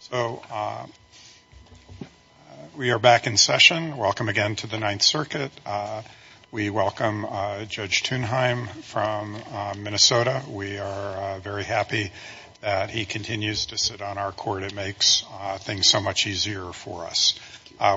So, we are back in session. Welcome again to the Ninth Circuit. We welcome Judge Thunheim from Minnesota. We are very happy that he continues to sit on our court. It makes things so much easier for us.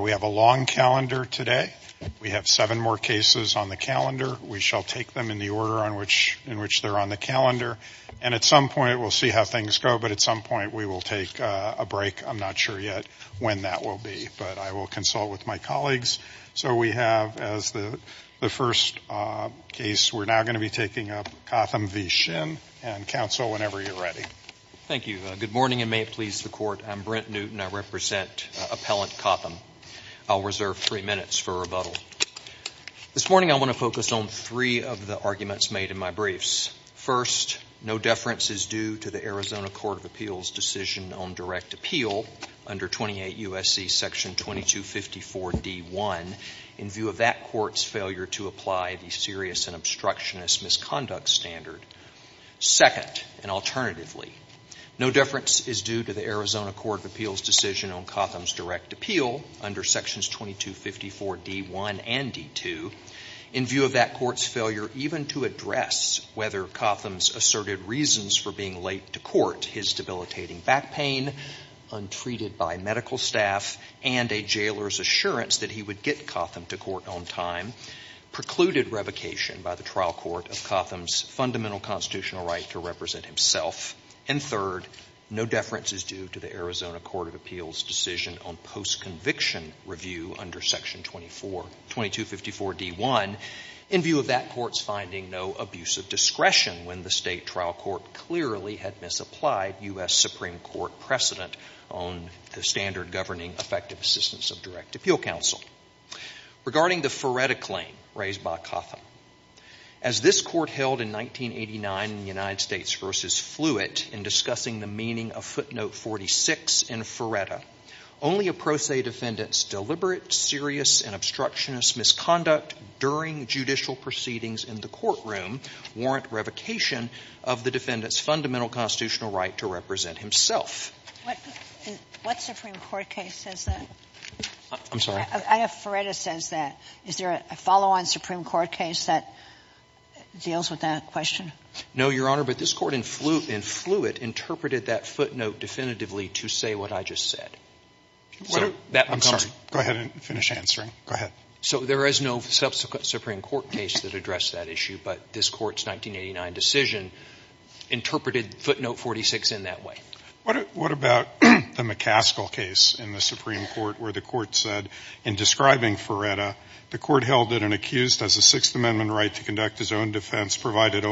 We have a long calendar today. We have seven more cases on the calendar. We shall take them in the order in which they are on the calendar. At some point we will see how things go, but at some point we will take a break. I am not sure yet when that will be, but I will consult with my colleagues. So, we have as the first case, we are now going to be taking up Cotham v. Shinn. Counsel, whenever you are ready. Thank you. Good morning and may it please the Court. I am Brent Newton. I represent three of the arguments made in my briefs. First, no deference is due to the Arizona Court of Appeals' decision on direct appeal under 28 U.S.C. § 2254 D.1 in view of that court's failure to apply the serious and obstructionist misconduct standard. Second, and alternatively, no deference is due to the Arizona Court of Appeals' decision on Cotham's direct appeal under § 2254 D.1 and D.2 in view of that court's failure even to address whether Cotham's asserted reasons for being late to court, his debilitating back pain, untreated by medical staff, and a jailer's assurance that he would get Cotham to court on time, precluded revocation by the trial court of Cotham's fundamental constitutional right to represent himself. And third, no deference is due to the Arizona Court of Appeals' decision on post-conviction review under § 2254 D.1 in view of that court's finding no abuse of discretion when the state trial court clearly had misapplied U.S. Supreme Court precedent on the standard governing effective assistance of direct appeal counsel. Regarding the Feretta claim raised by Cotham, as this Court held in 1989 in the United States v. Fluitt in discussing the meaning of footnote 46 in Feretta, only a pro se defendant's deliberate, serious, and obstructionist misconduct during judicial proceedings in the courtroom warrant revocation of the defendant's fundamental constitutional right to represent himself. What Supreme Court case says that? I'm sorry. I have Feretta says that. Is there a follow-on Supreme Court case that deals with that question? No, Your Honor, but this Court in Fluitt interpreted that footnote definitively to say what I just said. I'm sorry. Go ahead and finish answering. Go ahead. So there is no subsequent Supreme Court case that addressed that issue, but this Court's 1989 decision interpreted footnote 46 in that way. What about the McCaskill case in the Supreme Court where the Court said in describing Feretta, the Court held that an accused has a Sixth Amendment right to conduct his own defense, provided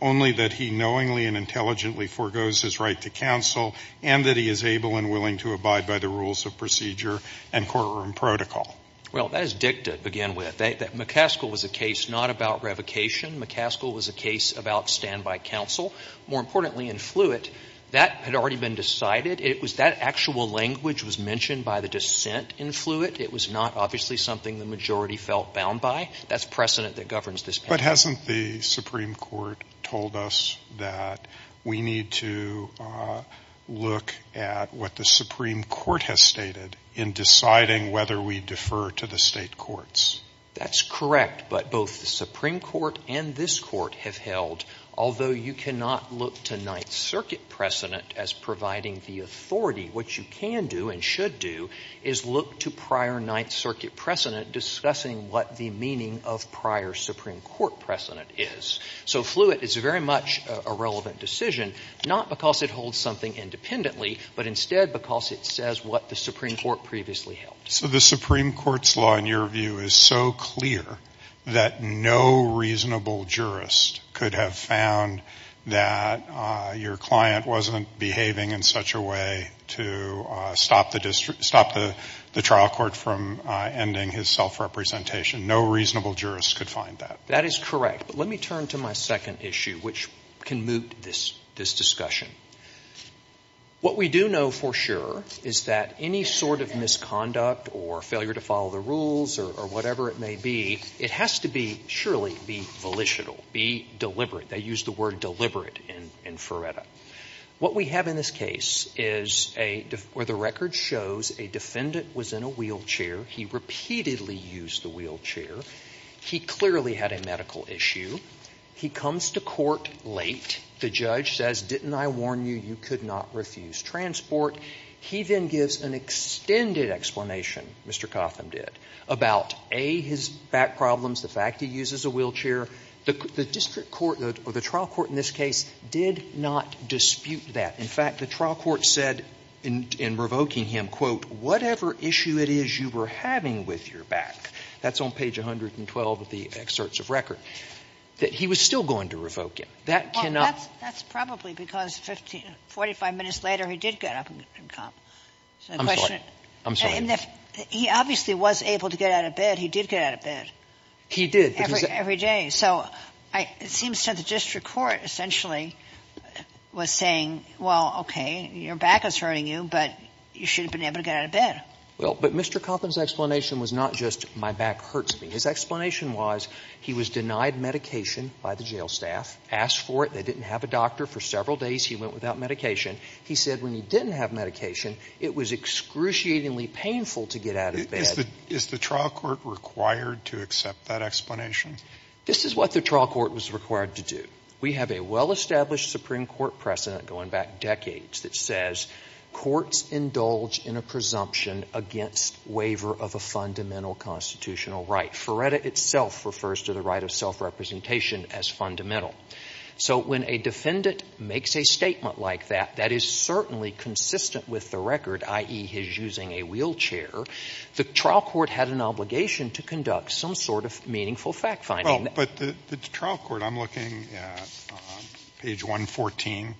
only that he knowingly and intelligently forgoes his right to counsel and that he is able and willing to abide by the rules of procedure and courtroom protocol? Well, that is dicta to begin with. McCaskill was a case not about revocation. McCaskill was a case about standby counsel. More importantly, in Fluitt, that had already been decided. It was that actual language was mentioned by the dissent in Fluitt. It was not obviously something the majority felt bound by. That's precedent that governs this case. But hasn't the Supreme Court told us that we need to look at what the Supreme Court has stated in deciding whether we defer to the state courts? That's correct, but both the Supreme Court and this Court have held, although you cannot look to Ninth Circuit precedent as providing the authority, what you can do and should do is look to prior Ninth Circuit precedent discussing what the meaning of prior Supreme Court precedent is. So Fluitt is very much a relevant decision, not because it holds something independently, but instead because it says what the Supreme Court previously held. So the Supreme Court's law, in your view, is so clear that no reasonable jurist could have found that your client wasn't behaving in such a way to stop the trial court from ending his self-representation. No reasonable jurist could find that. That is correct. But let me turn to my second issue, which can moot this discussion. What we do know for sure is that any sort of misconduct or failure to follow the rules or whatever it may be, it has to be, surely, be volitional, be deliberate. They use the word deliberate in FRERETA. What we have in this case is a — where the record shows a defendant was in a wheelchair. He repeatedly used the wheelchair. He clearly had a medical issue. He comes to court late. The judge says, didn't I warn you, you could not refuse transport. He then gives an extended explanation, Mr. Cotham did, about, A, his back problems, the fact he uses a wheelchair. The district court, or the trial court in this case, did not dispute that. In fact, the trial court said in revoking him, quote, whatever issue it is you were having with your back. That's on page 112 of the excerpts of record, that he was still going to revoke him. That cannot be. That's probably because 15 — 45 minutes later, he did get up and come. I'm sorry. I'm sorry. He obviously was able to get out of bed. He did get out of bed. He did. Every day. So it seems to the district court, essentially, was saying, well, okay, your back is hurting you, but you should have been able to get out of bed. Well, but Mr. Cotham's explanation was not just, my back hurts me. His explanation was, he was denied medication by the jail staff, asked for it. They didn't have a doctor. For several days, he went without medication. He said when he didn't have medication, it was excruciatingly painful to get out of Is the trial court required to accept that explanation? This is what the trial court was required to do. We have a well-established Supreme Court precedent going back decades that says courts indulge in a presumption against waiver of a fundamental constitutional right. Ferretta itself refers to the right of self-representation as fundamental. So when a defendant makes a statement like that, that is certainly consistent with the record, i.e., his using a wheelchair, the trial court had an obligation to conduct some sort of meaningful fact-finding. Well, but the trial court, I'm looking at page 114,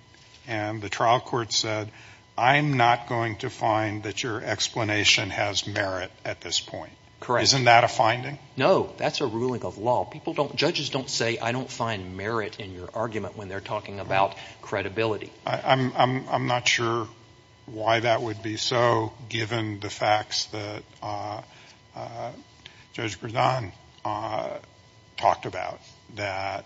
and the trial court said, I'm not going to find that your explanation has merit at this point. Correct. Isn't that a finding? No, that's a ruling of law. People don't, judges don't say, I don't find merit in your argument when they're talking about credibility. I'm not sure why that would be so, given the facts that Judge Gridan talked about, that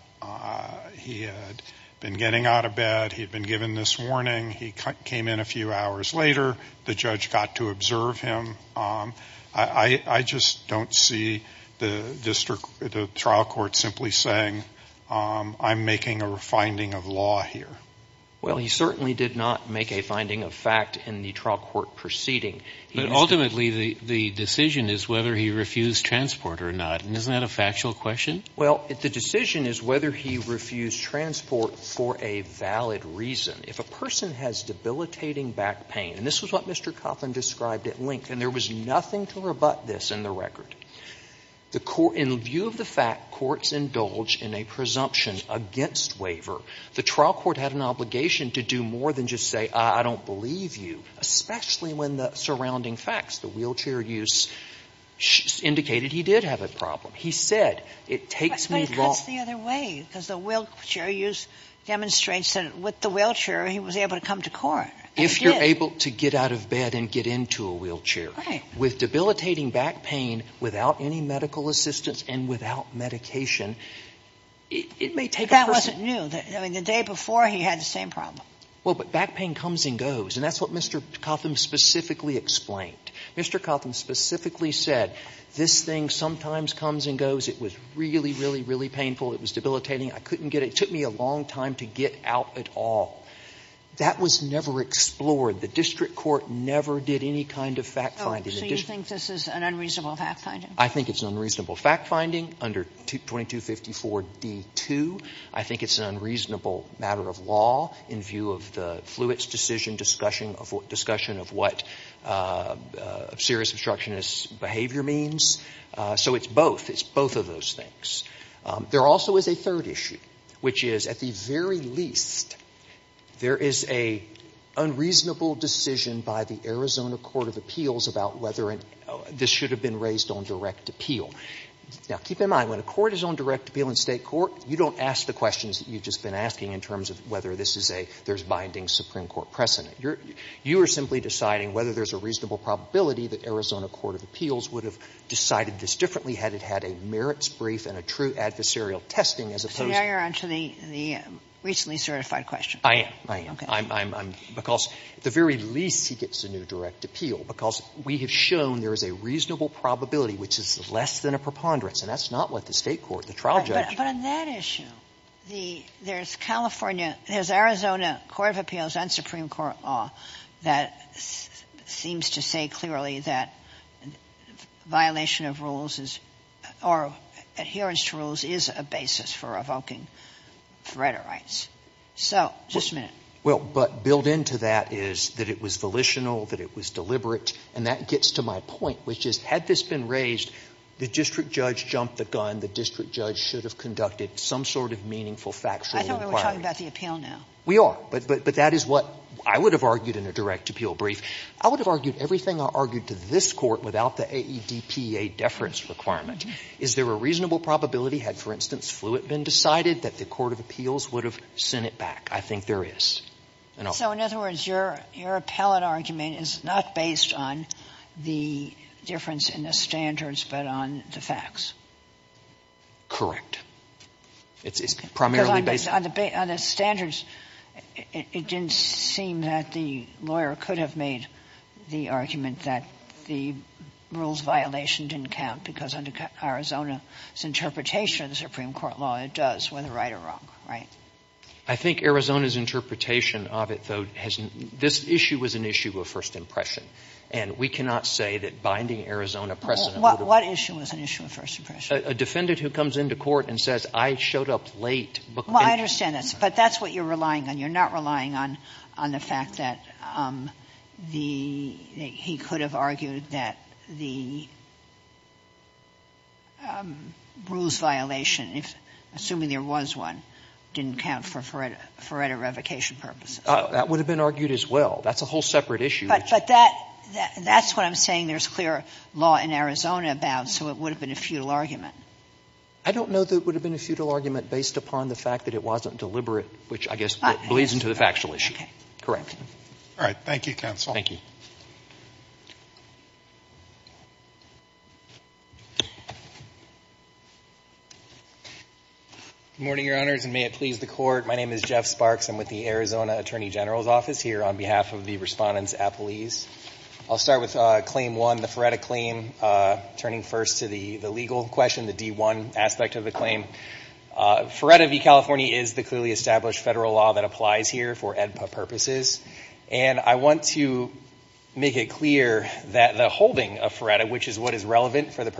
he had been getting out of bed, he had been given this warning, he came in a few hours later, the judge got to observe him. I just don't see the district, the trial court simply saying, I'm making a finding of law here. Well, he certainly did not make a finding of fact in the trial court proceeding. But ultimately, the decision is whether he refused transport or not, and isn't that a factual question? Well, the decision is whether he refused transport for a valid reason. If a person has debilitating back pain, and this is what Mr. Coughlin described at length, and there was nothing to rebut this in the record, the court, in view of the fact courts indulge in a presumption against waiver, the trial court had an obligation to do more than just say, I don't believe you, especially when the surrounding facts, the wheelchair use, indicated he did have a problem. He said, it takes me long. But it cuts the other way, because the wheelchair use demonstrates that with the wheelchair, he was able to come to court, and he did. If you're able to get out of bed and get into a wheelchair. Right. With debilitating back pain, without any medical assistance, and without medication, it may take a person. I mean, the day before, he had the same problem. Well, but back pain comes and goes. And that's what Mr. Coughlin specifically explained. Mr. Coughlin specifically said, this thing sometimes comes and goes. It was really, really, really painful. It was debilitating. I couldn't get it. It took me a long time to get out at all. That was never explored. The district court never did any kind of fact finding. So you think this is an unreasonable fact finding? I think it's an unreasonable fact finding under 2254d2. I think it's an unreasonable matter of law in view of the Fluitt's decision, discussion of what serious obstructionist behavior means. So it's both. It's both of those things. There also is a third issue, which is, at the very least, there is an unreasonable decision by the Arizona Court of Appeals about whether this should have been raised on direct appeal. Now, keep in mind, when a court is on direct appeal in State court, you don't ask the questions that you've just been asking in terms of whether this is a, there's binding Supreme Court precedent. You are simply deciding whether there's a reasonable probability that Arizona Court of Appeals would have decided this differently had it had a merits brief and a true adversarial testing, as opposed to the recently certified question. I am. I am. Because at the very least, he gets a new direct appeal, because we have shown there is a reasonable probability, which is less than a preponderance. And that's not what the State court, the trial judge. But on that issue, the, there's California, there's Arizona Court of Appeals and Supreme Court law that seems to say clearly that violation of rules is, or adherence to rules is a basis for evoking threat of rights. So, just a minute. Well, but built into that is that it was volitional, that it was deliberate. And that gets to my point, which is, had this been raised, the district judge jumped the gun, the district judge should have conducted some sort of meaningful factual inquiry. I thought we were talking about the appeal now. We are. But that is what I would have argued in a direct appeal brief. I would have argued everything I argued to this Court without the AEDPA deference requirement. Is there a reasonable probability had, for instance, Fluitt been decided that the Court of Appeals would have sent it back? I think there is. So, in other words, your appellate argument is not based on the difference in the standards, but on the facts. Correct. It's primarily based on the facts. On the standards, it didn't seem that the lawyer could have made the argument that the rules violation didn't count, because under Arizona's interpretation of the Supreme Court law, it does, whether right or wrong, right? I think Arizona's interpretation of it, though, has not been. This issue was an issue of first impression. And we cannot say that binding Arizona precedent would have helped. But what issue was an issue of first impression? A defendant who comes into court and says, I showed up late. Well, I understand that. But that's what you're relying on. You're not relying on the fact that the he could have argued that the rules violation, assuming there was one, didn't count for FORETA revocation purposes. That would have been argued as well. That's a whole separate issue. But that's what I'm saying there's clear law in Arizona about, so it would have been a futile argument. I don't know that it would have been a futile argument based upon the fact that it wasn't deliberate, which I guess bleeds into the factual issue. All right. Thank you, counsel. Thank you. Good morning, Your Honors, and may it please the Court. My name is Jeff Sparks. I'm with the Arizona Attorney General's Office here on behalf of the Respondents Appellees. I'll start with Claim 1, the FORETA claim, turning first to the legal question, the D1 aspect of the claim. FORETA v. California is the clearly established federal law that applies here for AEDPA purposes. And I want to make it clear that the holding of FORETA, which is what is relevant for the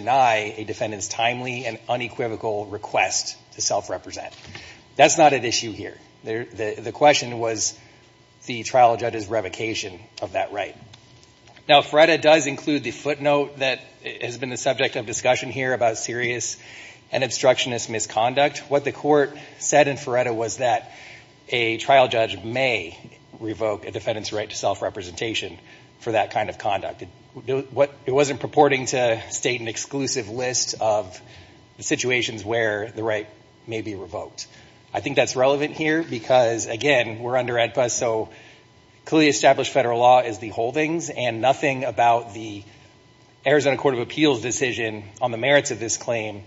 timely and unequivocal request to self-represent. That's not at issue here. The question was the trial judge's revocation of that right. Now, FORETA does include the footnote that has been the subject of discussion here about serious and obstructionist misconduct. What the Court said in FORETA was that a trial judge may revoke a defendant's right to self-representation for that kind of conduct. It wasn't purporting to state an exclusive list of the situations where the right may be revoked. I think that's relevant here because, again, we're under AEDPA, so clearly established federal law is the holdings, and nothing about the Arizona Court of Appeals decision on the merits of this claim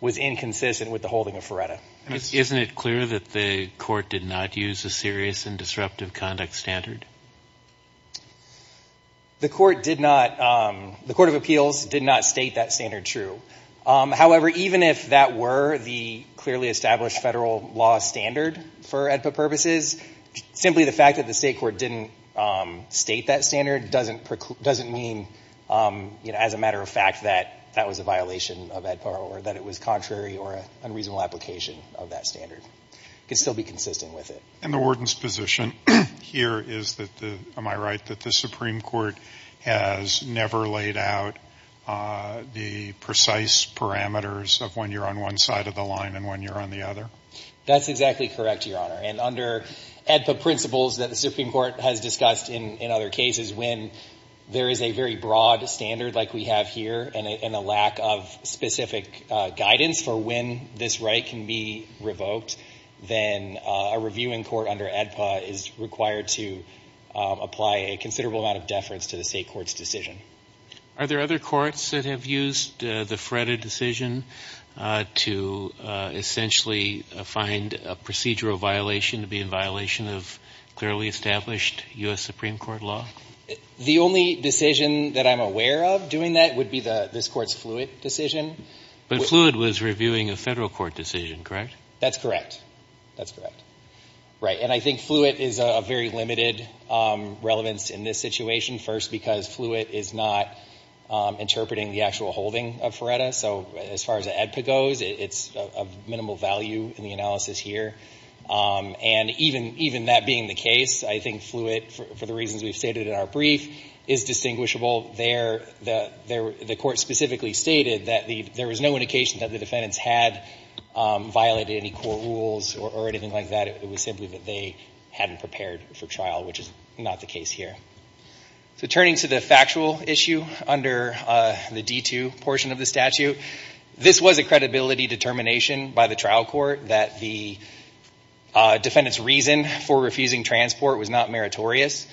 was inconsistent with the holding of FORETA. Isn't it clear that the Court did not use a serious and disruptive conduct standard? The Court of Appeals did not state that standard true. However, even if that were the clearly established federal law standard for AEDPA purposes, simply the fact that the state court didn't state that standard doesn't mean, as a matter of fact, that that was a violation of AEDPA or that it was contrary or an unreasonable application of that standard. It could still be consistent with it. And the warden's position here is that the, am I right, that the Supreme Court has never laid out the precise parameters of when you're on one side of the line and when you're on the other? That's exactly correct, Your Honor. And under AEDPA principles that the Supreme Court has discussed in other cases, when there is a very broad standard like we have here and a lack of specific guidance for when this right can be revoked, then a reviewing court under AEDPA is required to apply a considerable amount of deference to the state court's decision. Are there other courts that have used the FORETA decision to essentially find a procedural violation to be in violation of clearly established U.S. Supreme Court law? The only decision that I'm aware of doing that would be this Court's Fluid decision. But Fluid was reviewing a Federal court decision, correct? That's correct. That's correct. Right. And I think Fluid is of very limited relevance in this situation, first because Fluid is not interpreting the actual holding of FORETA. So as far as AEDPA goes, it's of minimal value in the analysis here. And even that being the case, I think Fluid, for the reasons we've stated in our brief, is distinguishable. The Court specifically stated that there was no indication that the defendants had violated any court rules or anything like that. It was simply that they hadn't prepared for trial, which is not the case here. So turning to the factual issue under the D2 portion of the statute, this was a credibility determination by the trial court that the defendant's reason for refusing transport was not meritorious.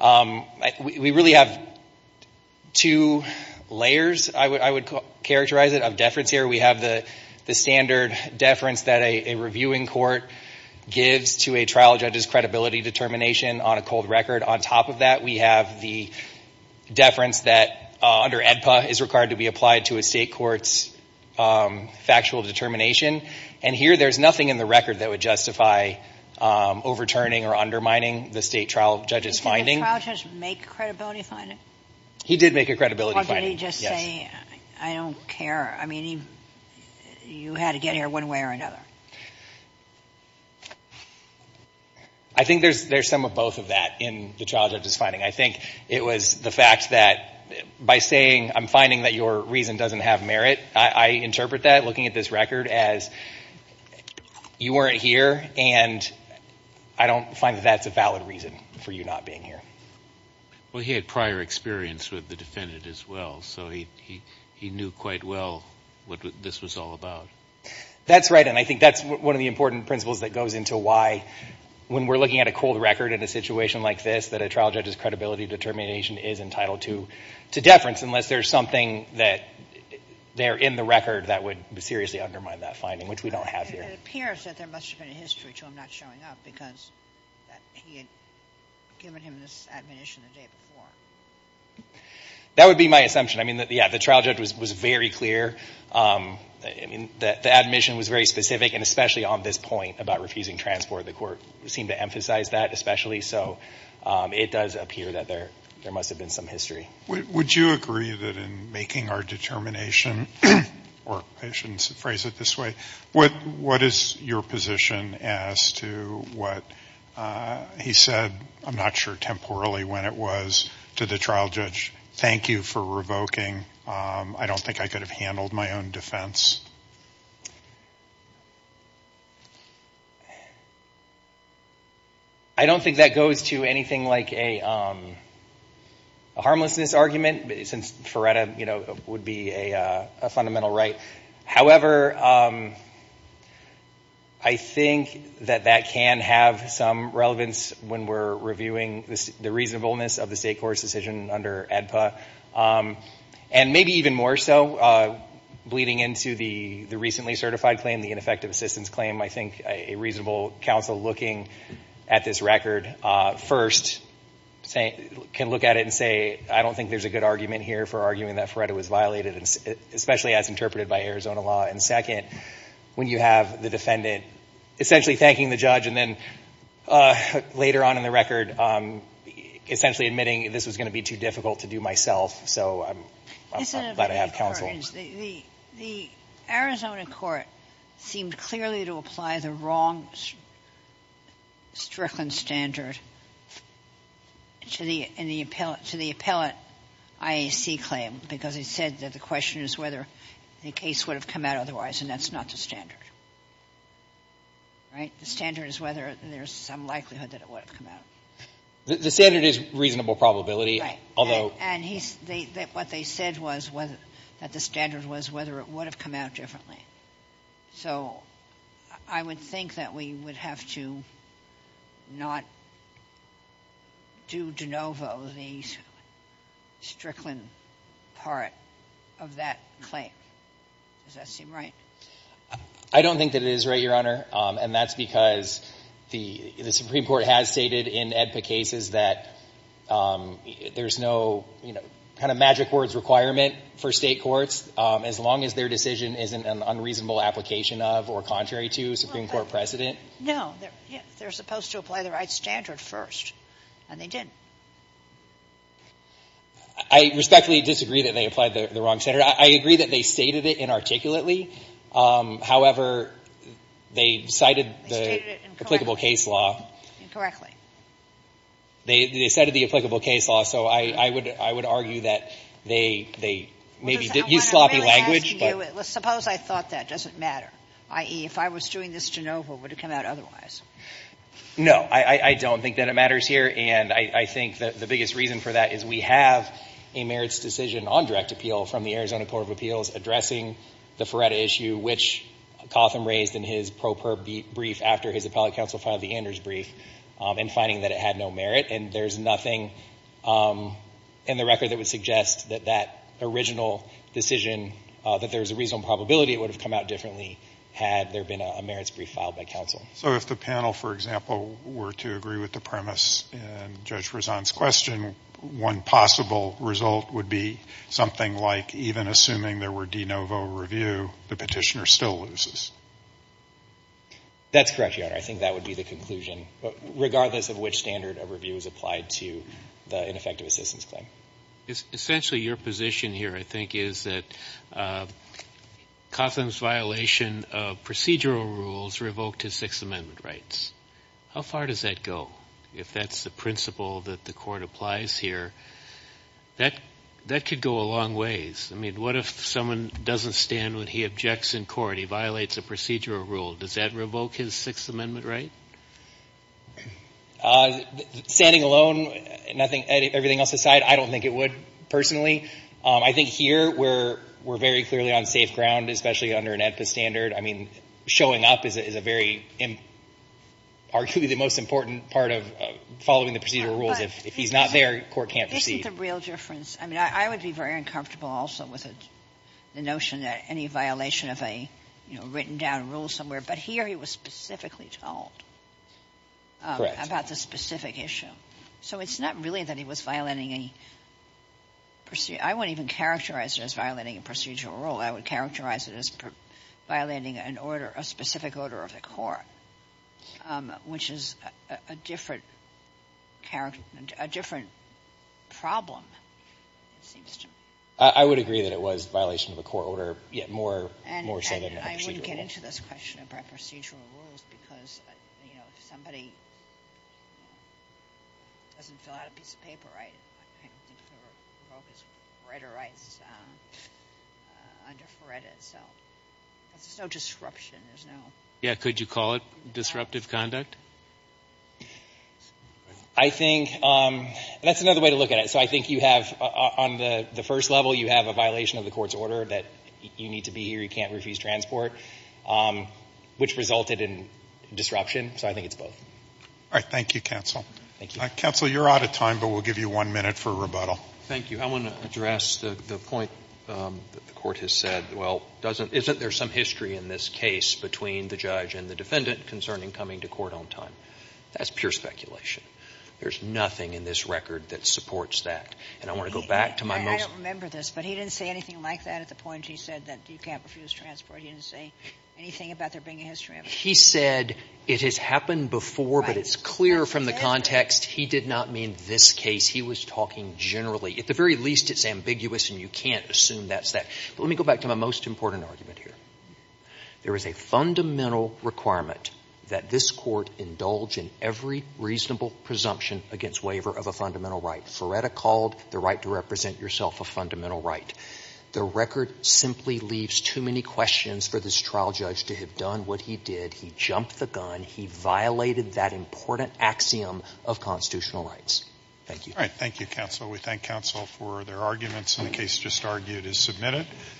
We really have two layers, I would characterize it, of deference here. We have the standard deference that a reviewing court gives to a trial judge's credibility determination on a cold record. On top of that, we have the deference that under AEDPA is required to be applied to a state court's factual determination. And here, there's nothing in the record that would justify overturning or undermining the state trial judge's finding. Did the trial judge make a credibility finding? He did make a credibility finding, yes. Or did he just say, I don't care? I mean, you had to get here one way or another. I think there's some of both of that in the trial judge's finding. I think it was the fact that by saying, I'm finding that your reason doesn't have merit, I interpret that, looking at this record, as you weren't here and I don't find that that's a reason for you not being here. Well, he had prior experience with the defendant as well. So he knew quite well what this was all about. That's right. And I think that's one of the important principles that goes into why, when we're looking at a cold record in a situation like this, that a trial judge's credibility determination is entitled to deference unless there's something there in the record that would seriously undermine that finding, which we don't have here. It appears that there must have been a history to him not showing up because he had given him this admonition the day before. That would be my assumption. I mean, yeah, the trial judge was very clear. I mean, the admission was very specific, and especially on this point about refusing transport, the court seemed to emphasize that especially. So it does appear that there must have been some history. Would you agree that in making our determination, or I shouldn't phrase it this way, but what is your position as to what he said, I'm not sure temporally when it was, to the trial judge? Thank you for revoking. I don't think I could have handled my own defense. I don't think that goes to anything like a harmlessness argument, since Ferreira, you know, would be a fundamental right. However, I think that that can have some relevance when we're reviewing the reasonableness of the State Court's decision under ADPA, and maybe even more so, bleeding into the recently certified claim, the ineffective assistance claim. I think a reasonable counsel looking at this record first can look at it and say, I don't think there's a good argument here for arguing that Ferreira was violated, especially as interpreted by Arizona law. And second, when you have the defendant essentially thanking the judge and then later on in the record essentially admitting this was going to be too difficult to do myself. So I'm glad I have counsel. The Arizona court seemed clearly to apply the wrong Strickland standard to the appellate IAC claim, because he said that the question is whether the case would have come out otherwise, and that's not the standard, right? The standard is whether there's some likelihood that it would have come out. The standard is reasonable probability. And what they said was that the standard was whether it would have come out differently. So I would think that we would have to not do de novo the Strickland part of that claim. Does that seem right? I don't think that it is right, Your Honor. And that's because the Supreme Court has stated in ADPA cases that there's no kind of magic words requirement for state courts as long as their decision isn't an unreasonable application of or contrary to Supreme Court precedent. No. They're supposed to apply the right standard first, and they didn't. I respectfully disagree that they applied the wrong standard. I agree that they stated it inarticulately. However, they cited the applicable case law. Incorrectly. They cited the applicable case law, so I would argue that they maybe used sloppy language. Suppose I thought that. Does it matter? I.e., if I was doing this de novo, would it come out otherwise? No. I don't think that it matters here. And I think the biggest reason for that is we have a merits decision on direct appeal from the Arizona Court of Appeals addressing the Feretta issue, which Cotham raised in his pro per brief after his appellate counsel filed the Anders brief. And finding that it had no merit. And there's nothing in the record that would suggest that that original decision, that there's a reasonable probability it would have come out differently had there been a merits brief filed by counsel. So if the panel, for example, were to agree with the premise in Judge Rezan's question, one possible result would be something like even assuming there were de novo review, the petitioner still loses. That's correct, Your Honor. I think that would be the conclusion, regardless of which standard of review is applied to the ineffective assistance claim. Essentially, your position here, I think, is that Cotham's violation of procedural rules revoked his Sixth Amendment rights. How far does that go? If that's the principle that the Court applies here, that could go a long ways. I mean, what if someone doesn't stand when he objects in court? He violates a procedural rule. Does that revoke his Sixth Amendment right? Standing alone, nothing, everything else aside, I don't think it would, personally. I think here we're very clearly on safe ground, especially under an AEDPA standard. I mean, showing up is a very, arguably the most important part of following the procedural rules. If he's not there, court can't proceed. Isn't the real difference? I mean, I would be very uncomfortable also with the notion that any violation of a written-down rule somewhere, but here he was specifically told about the specific issue. So it's not really that he was violating a – I wouldn't even characterize it as violating a procedural rule. I would characterize it as violating an order, a specific order of the court, which is a different problem, it seems to me. I would agree that it was a violation of a court order, yet more so than a procedural rule. And I wouldn't get into this question about procedural rules because, you know, if somebody doesn't fill out a piece of paper, right, I think the revoke is reiterated under FREDA itself. There's no disruption. There's no – Yeah, could you call it disruptive conduct? I think – and that's another way to look at it. So I think you have – on the first level, you have a violation of the court's order that you need to be here, you can't refuse transport, which resulted in disruption. So I think it's both. All right. Thank you, counsel. Thank you. Counsel, you're out of time, but we'll give you one minute for rebuttal. Thank you. I want to address the point that the court has said, well, doesn't – isn't there some history in this case between the judge and the defendant concerning coming to court on time? That's pure speculation. There's nothing in this record that supports that. And I want to go back to my most – I don't remember this, but he didn't say anything like that at the point he said that you can't refuse transport. He didn't say anything about there being a history of it. He said it has happened before, but it's clear from the context he did not mean this case. He was talking generally. At the very least, it's ambiguous and you can't assume that's that. But let me go back to my most important argument here. There is a fundamental requirement that this court indulge in every reasonable presumption against waiver of a fundamental right. Feretta called the right to represent yourself a fundamental right. The record simply leaves too many questions for this trial judge to have done what he did. He jumped the gun. He violated that important axiom of constitutional rights. Thank you. All right. Thank you, counsel. We thank counsel for their arguments, and the case just argued is submitted.